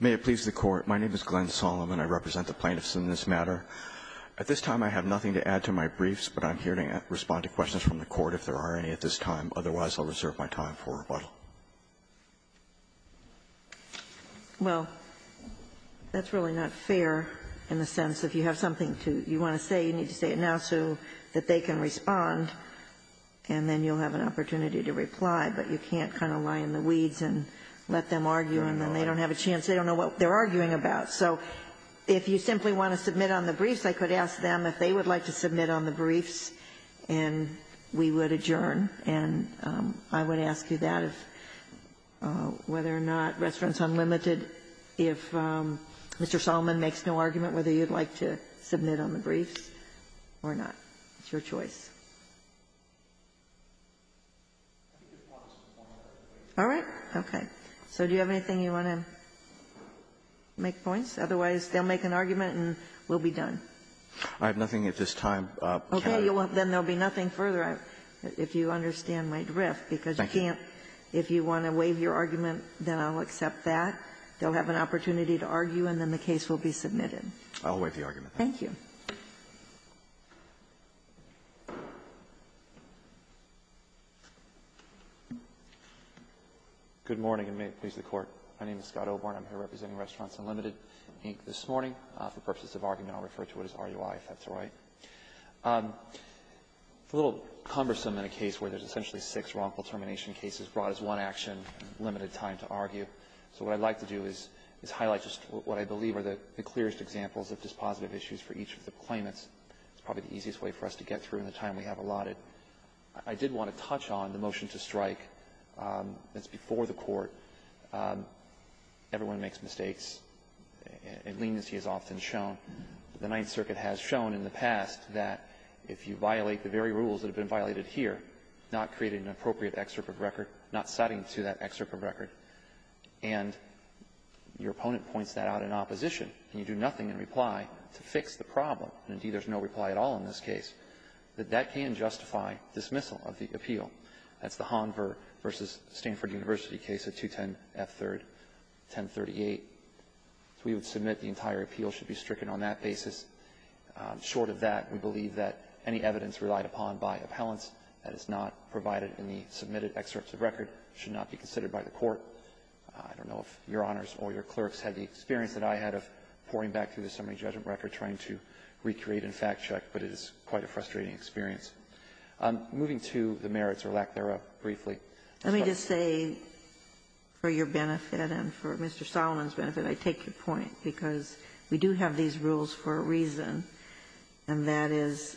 May it please the Court. My name is Glenn Solomon. I represent the plaintiffs in this matter. At this time, I have nothing to add to my briefs, but I'm here to respond to questions from the Court if there are any at this time. Otherwise, I'll reserve my time for rebuttal. Well, that's really not fair in the sense that if you have something you want to say, you need to say it now so that they can respond, and then you'll have an opportunity to reply. But you can't kind of lie in the weeds and let them argue, and then they don't have a chance. They don't know what they're arguing about. So if you simply want to submit on the briefs, I could ask them if they would like to submit on the briefs, and we would adjourn. And I would ask you that if, whether or not Restaurants Unlimited, if Mr. Solomon makes no argument whether you'd like to submit on the briefs or not. It's your choice. All right. Okay. So do you have anything you want to make points? Otherwise, they'll make an argument and we'll be done. I have nothing at this time. Okay. Then there will be nothing further, if you understand my drift, because you can't Thank you. If you want to waive your argument, then I'll accept that. They'll have an opportunity to argue, and then the case will be submitted. I'll waive the argument. Thank you. Good morning, and may it please the Court. My name is Scott O'Byrne. I'm here representing Restaurants Unlimited, Inc., this morning. For purposes of argument, I'll refer to it as RUI, if that's all right. It's a little cumbersome in a case where there's essentially six wrongful termination cases brought as one action, limited time to argue. So what I'd like to do is highlight just what I believe are the clearest examples of dispositive issues for each of the claimants. It's probably the easiest way for us to get through in the time we have allotted. I did want to touch on the motion to strike that's before the Court. Everyone makes mistakes, and leniency is often shown. The Ninth Circuit has shown in the past that if you violate the very rules that have been violated here, not creating an appropriate excerpt of record, not citing to that excerpt of record, and your opponent points that out in opposition, and you do nothing in reply to fix the problem, and, indeed, there's no reply at all in this case, that that can justify dismissal of the appeal. That's the Hanver v. Stanford University case of 210F3rd, 1038. We would submit the entire appeal should be stricken on that basis. Short of that, we believe that any evidence relied upon by appellants that is not provided in the submitted excerpts of record should not be considered by the Court. I don't know if Your Honors or your clerks had the experience that I had of pouring back through the summary judgment record, trying to recreate and fact-check, but it is quite a frustrating experience. Moving to the merits or lack thereof, briefly. Ginsburg. Let me just say, for your benefit and for Mr. Solomon's benefit, I take your point, because we do have these rules for a reason, and that is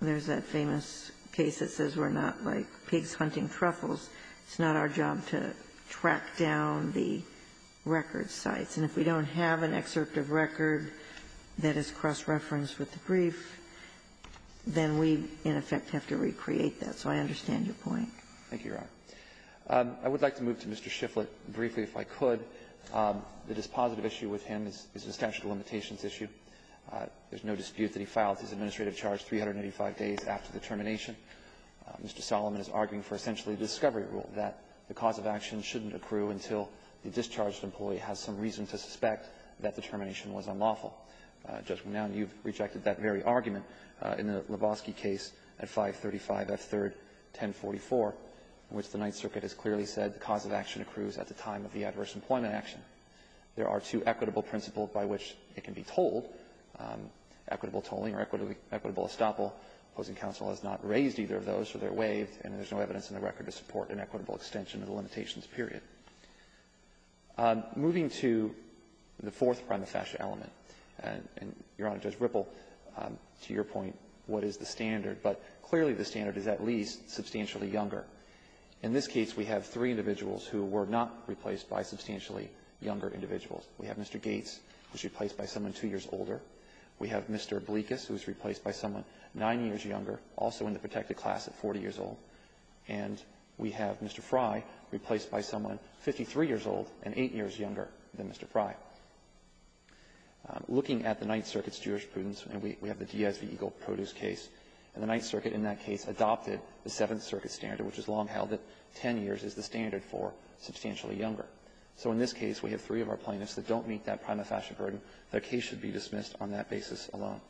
there's that famous case that says we're not like pigs hunting truffles. It's not our job to track down the record sites. And if we don't have an excerpt of record that is cross-referenced with the brief, then we, in effect, have to recreate that. So I understand your point. Thank you, Your Honor. I would like to move to Mr. Shifflett briefly, if I could. The dispositive issue with him is a statute of limitations issue. There's no dispute that he filed his administrative charge 385 days after the termination. Mr. Solomon is arguing for essentially a discovery rule that the cause of action shouldn't accrue until the discharged employee has some reason to suspect that the termination was unlawful. Judgment now, you've rejected that very argument in the Lebowski case at 535 F. 3rd, 1044, in which the Ninth Circuit has clearly said the cause of action accrues at the time of the adverse employment action. There are two equitable principles by which it can be told, equitable tolling or equitable estoppel. Opposing counsel has not raised either of those, so they're waived, and there's no evidence in the record to support an equitable extension of the limitations, period. Moving to the fourth prima facie element, and, Your Honor, Judge Ripple, to your point, what is the standard? But clearly, the standard is at least substantially younger. In this case, we have three individuals who were not replaced by substantially younger individuals. We have Mr. Gates, who was replaced by someone two years older. We have Mr. Bleekus, who was replaced by someone nine years younger, also in the And we have Mr. Frye replaced by someone 53 years old and eight years younger than Mr. Frye. Looking at the Ninth Circuit's jurisprudence, and we have the Diaz v. Eagle Produce case, and the Ninth Circuit in that case adopted the Seventh Circuit standard, which has long held that 10 years is the standard for substantially younger. So in this case, we have three of our plaintiffs that don't meet that prima facie burden. Their case should be dismissed on that basis alone.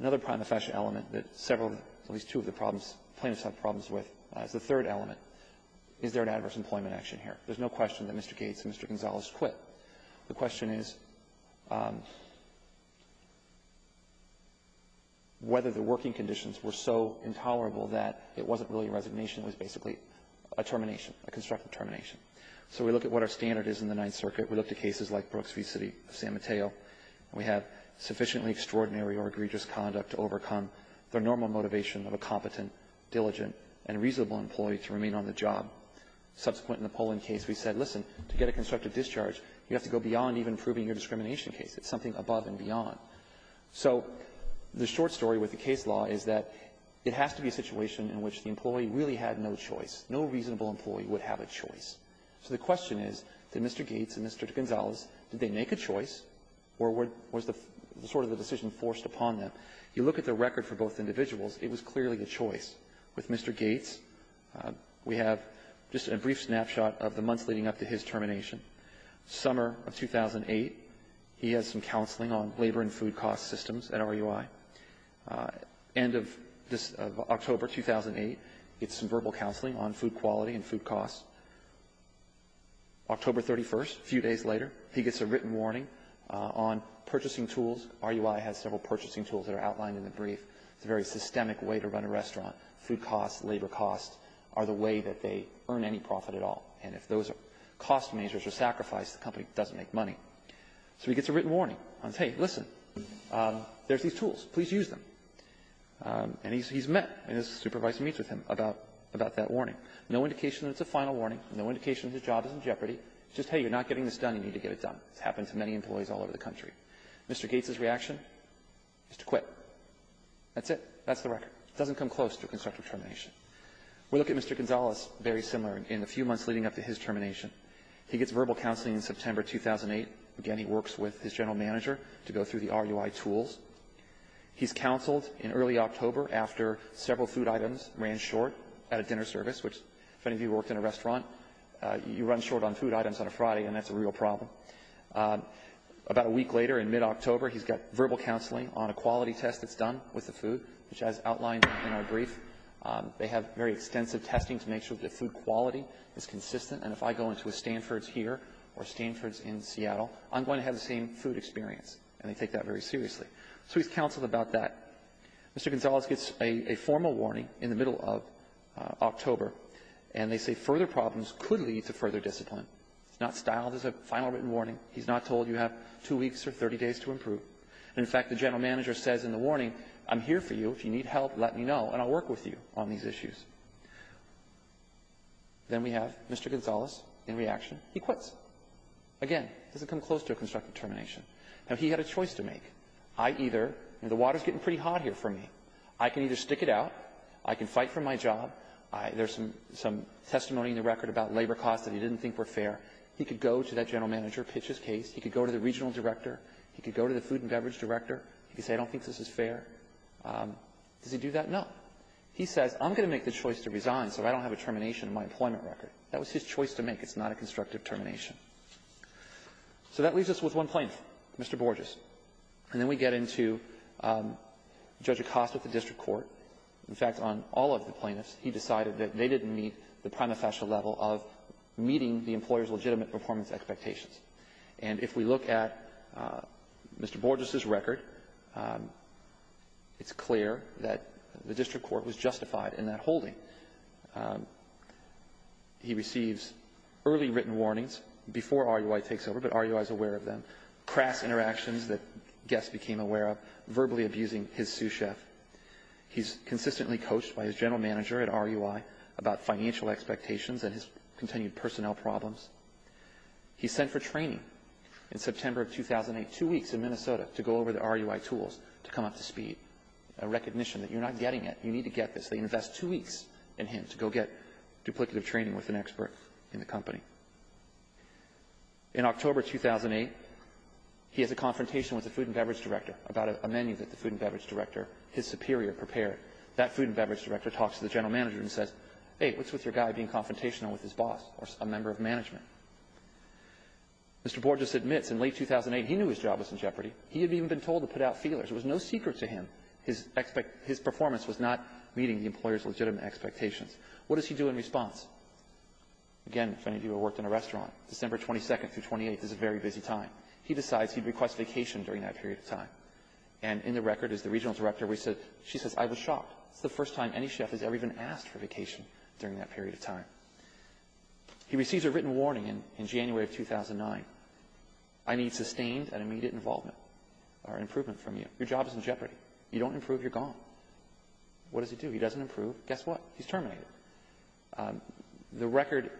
Another prima facie element that several, at least two of the problems the plaintiffs have problems with is the third element. Is there an adverse employment action here? There's no question that Mr. Gates and Mr. Gonzalez quit. The question is whether the working conditions were so intolerable that it wasn't really a resignation. It was basically a termination, a constructive termination. So we look at what our standard is in the Ninth Circuit. We look at cases like Brooks v. City of San Mateo, and we have sufficiently extraordinary or egregious conduct to overcome the normal motivation of a competent, diligent, and reasonable employee to remain on the job. Subsequent in the Poland case, we said, listen, to get a constructive discharge, you have to go beyond even proving your discrimination case. It's something above and beyond. So the short story with the case law is that it has to be a situation in which the employee really had no choice. No reasonable employee would have a choice. So the question is, did Mr. Gates and Mr. Gonzalez, did they make a choice, or was the sort of the decision forced upon them? You look at the record for both individuals, it was clearly a choice. With Mr. Gates, we have just a brief snapshot of the months leading up to his termination. Summer of 2008, he has some counseling on labor and food cost systems at RUI. End of this October 2008, gets some verbal counseling on food quality and food costs. October 31st, a few days later, he gets a written It's a very systemic way to run a restaurant. Food costs, labor costs are the way that they earn any profit at all. And if those are cost measures or sacrifice, the company doesn't make money. So he gets a written warning. Hey, listen, there's these tools. Please use them. And he's met. And his supervisor meets with him about that warning. No indication that it's a final warning. No indication that his job is in jeopardy. It's just, hey, you're not getting this done. You need to get it done. It's happened to many employees all over the country. Mr. Gates' reaction? He used to quit. That's it. That's the record. It doesn't come close to a constructive termination. We look at Mr. Gonzalez very similar in the few months leading up to his termination. He gets verbal counseling in September 2008. Again, he works with his general manager to go through the RUI tools. He's counseled in early October after several food items ran short at a dinner service, which, if any of you worked in a restaurant, you run short on food items on a Friday, and that's a real problem. About a week later, in mid-October, he's got verbal counseling on a quality test that's done with the food, which, as outlined in our brief, they have very extensive testing to make sure that the food quality is consistent. And if I go into a Stanford's here or Stanford's in Seattle, I'm going to have the same food experience, and they take that very seriously. So he's counseled about that. Mr. Gonzalez gets a formal warning in the middle of October, and they say further problems could lead to further discipline. It's not styled as a final written warning. He's not told you have two weeks or 30 days to improve. And, in fact, the general manager says in the warning, I'm here for you. If you need help, let me know, and I'll work with you on these issues. Then we have Mr. Gonzalez in reaction. He quits. Again, it doesn't come close to a constructive termination. Now, he had a choice to make. I either, the water's getting pretty hot here for me. I can either stick it out. I can fight for my job. There's some testimony in the record about labor costs that he didn't think were fair. He could go to that general manager, pitch his case. He could go to the regional director. He could go to the food and beverage director. He could say, I don't think this is fair. Does he do that? No. He says, I'm going to make the choice to resign so I don't have a termination in my employment record. That was his choice to make. It's not a constructive termination. So that leaves us with one plaintiff, Mr. Borges. And then we get into Judge Acosta at the district court. In fact, on all of the plaintiffs, he decided that they didn't meet the prima facie level of meeting the employer's legitimate performance expectations. And if we look at Mr. Borges' record, it's clear that the district court was justified in that holding. He receives early written warnings before RUI takes over, but RUI is aware of them, crass interactions that guests became aware of, verbally abusing his sous-chef. He's consistently coached by his general manager at RUI about financial expectations and his continued personnel problems. He's sent for training in September of 2008, two weeks in Minnesota, to go over the RUI tools to come up to speed, a recognition that you're not getting it, you need to get this. They invest two weeks in him to go get duplicative training with an expert in the company. In October of 2008, he has a confrontation with the food and beverage director about a menu that the food and beverage director, his superior, prepared. That food and beverage director talks to the general manager and says, hey, what's wrong with your guy being confrontational with his boss or a member of management? Mr. Borges admits in late 2008, he knew his job was in jeopardy. He had even been told to put out feelers. It was no secret to him his performance was not meeting the employer's legitimate expectations. What does he do in response? Again, if any of you have worked in a restaurant, December 22nd through 28th is a very busy time. He decides he'd request vacation during that period of time. And in the record, as the regional director, we said, she says, I was shocked. It's the first time any chef has ever even asked for vacation during that period of time. He receives a written warning in January of 2009. I need sustained and immediate involvement or improvement from you. Your job is in jeopardy. You don't improve, you're gone. What does he do? He doesn't improve. Guess what? He's terminated. The record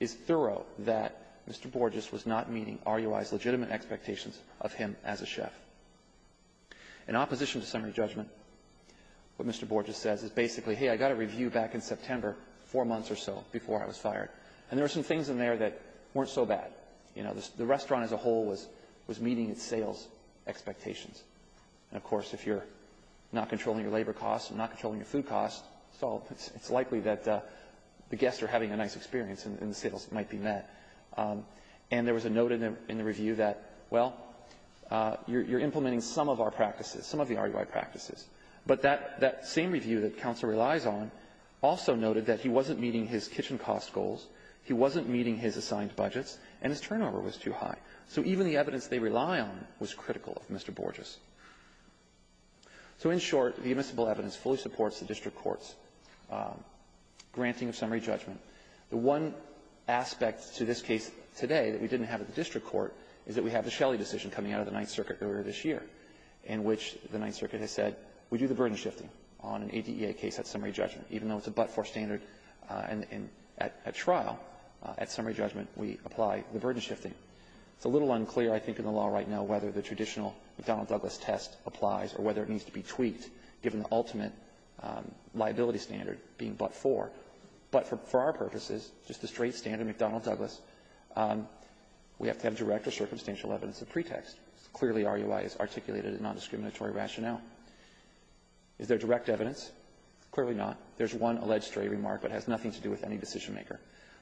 is thorough that Mr. Borges was not meeting RUI's legitimate expectations of him as a chef. In opposition to summary judgment, what Mr. Borges says is basically, hey, I got a review back in September, four months or so before I was fired. And there were some things in there that weren't so bad. You know, the restaurant as a whole was meeting its sales expectations. And, of course, if you're not controlling your labor costs and not controlling your food costs, so it's likely that the guests are having a nice experience and the sales might be met. And there was a note in the review that, well, you're implementing some of our practices, some of the RUI practices. But that same review that counsel relies on also noted that he wasn't meeting his kitchen cost goals, he wasn't meeting his assigned budgets, and his turnover was too high. So even the evidence they rely on was critical of Mr. Borges. So in short, the admissible evidence fully supports the district court's granting of summary judgment. The one aspect to this case today that we didn't have at the district court is that we have the Shelley decision coming out of the Ninth Circuit earlier this year, in which the Ninth Circuit has said we do the burden shifting on an ADA case at summary judgment, even though it's a but-for standard at trial. At summary judgment, we apply the burden shifting. It's a little unclear, I think, in the law right now whether the traditional McDonnell-Douglas test applies or whether it needs to be tweaked, given the ultimate liability standard being but-for. But for our purposes, just the straight standard McDonnell-Douglas, we have to have direct or circumstantial evidence of pretext. Clearly, RUI is articulated in nondiscriminatory rationale. Is there direct evidence? Clearly not. There's one alleged stray remark, but it has nothing to do with any decisionmaker.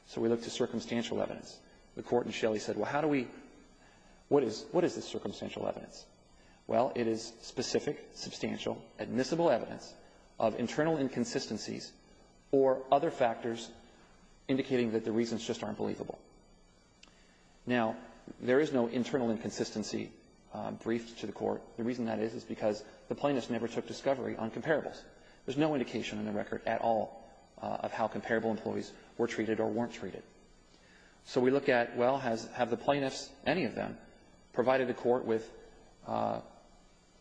So we look to circumstantial evidence. The Court in Shelley said, well, how do we – what is – what is this circumstantial evidence? Well, it is specific, substantial, admissible evidence of internal inconsistencies or other factors indicating that the reasons just aren't believable. Now, there is no internal inconsistency briefed to the Court. The reason that is, is because the plaintiffs never took discovery on comparables. There's no indication in the record at all of how comparable employees were treated or weren't treated. So we look at, well, has – have the plaintiffs, any of them, provided the Court with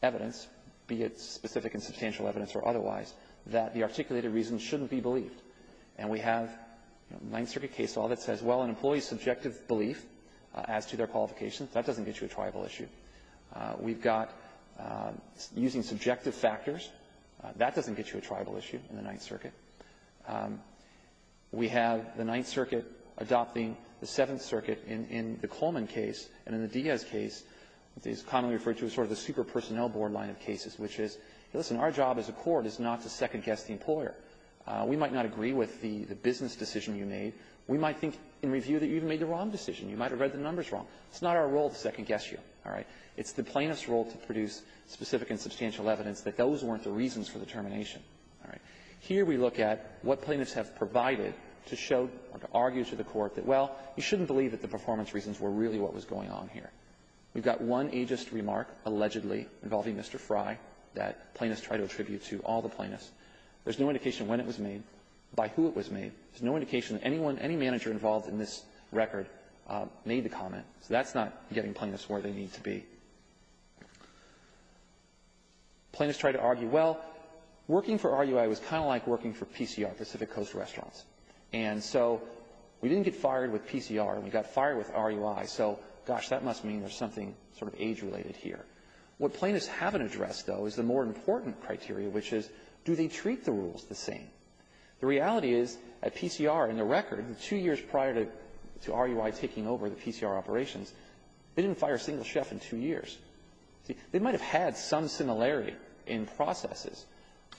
evidence, be it specific and substantial evidence or otherwise, that the articulated reasons shouldn't be believed? And we have Ninth Circuit case law that says, well, an employee's subjective belief as to their qualifications, that doesn't get you a triable issue. We've got using subjective factors. That doesn't get you a triable issue in the Ninth Circuit. We have the Ninth Circuit adopting the Seventh Circuit in the Coleman case, and in the case commonly referred to as sort of the super-personnel board line of cases, which is, listen, our job as a court is not to second-guess the employer. We might not agree with the business decision you made. We might think in review that you made the wrong decision. You might have read the numbers wrong. It's not our role to second-guess you. All right? It's the plaintiff's role to produce specific and substantial evidence that those weren't the reasons for the termination. All right? Here we look at what plaintiffs have provided to show or to argue to the Court that, well, you shouldn't believe that the performance reasons were really what was going on here. We've got one ageist remark, allegedly, involving Mr. Fry, that plaintiffs try to attribute to all the plaintiffs. There's no indication when it was made, by who it was made. There's no indication that anyone, any manager involved in this record made the comment. So that's not getting plaintiffs where they need to be. Plaintiffs try to argue, well, working for RUI was kind of like working for PCR, Pacific Coast Restaurants. And so we didn't get fired with PCR, and we got fired with RUI. So, gosh, that must mean there's something sort of age-related here. What plaintiffs haven't addressed, though, is the more important criteria, which is, do they treat the rules the same? The reality is, at PCR, in the record, two years prior to RUI taking over the PCR operations, they didn't fire a single chef in two years. See, they might have had some similarity in processes,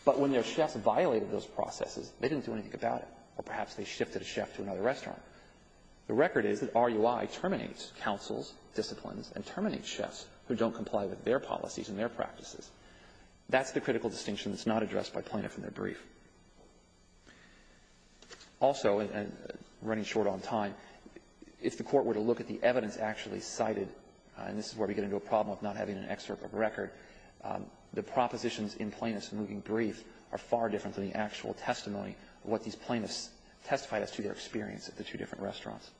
but when their chefs violated those processes, they didn't do anything about it. Or perhaps they disciplines and terminate chefs who don't comply with their policies and their practices. That's the critical distinction that's not addressed by plaintiff in their brief. Also, and running short on time, if the Court were to look at the evidence actually cited, and this is where we get into a problem of not having an excerpt of a record, the propositions in plaintiffs in moving brief are far different than the actual testimony of what these plaintiffs testified as to their experience at the two different restaurants.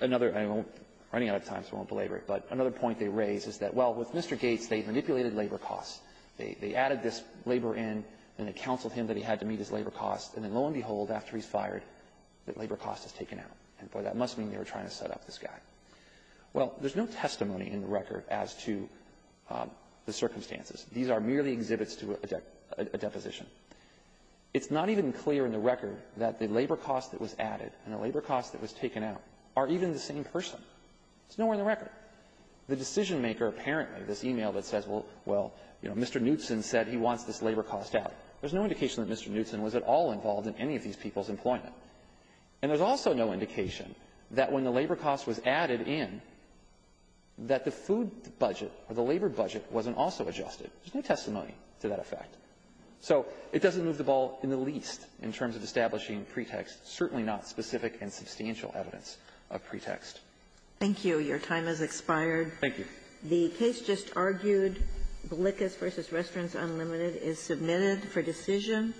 Another, and I'm running out of time, so I won't belabor it, but another point they raise is that, well, with Mr. Gates, they manipulated labor costs. They added this labor in, and it counseled him that he had to meet his labor costs. And then, lo and behold, after he's fired, the labor cost is taken out. And, boy, that must mean they were trying to set up this guy. Well, there's no testimony in the record as to the circumstances. These are merely exhibits to a deposition. It's not even clear in the record that the labor cost that was added and the labor cost that was taken out are even the same person. It's nowhere in the record. The decision-maker apparently, this e-mail that says, well, Mr. Knutson said he wants this labor cost out, there's no indication that Mr. Knutson was at all involved in any of these people's employment. And there's also no indication that when the labor cost was added in, that the food budget or the labor budget wasn't also adjusted. There's no testimony to that effect. So it doesn't move the ball in the least in terms of establishing pretexts, certainly not specific and substantial evidence of pretext. Thank you. Your time has expired. Thank you. The case just argued, Bilicus v. Restaurants Unlimited, is submitted for decision.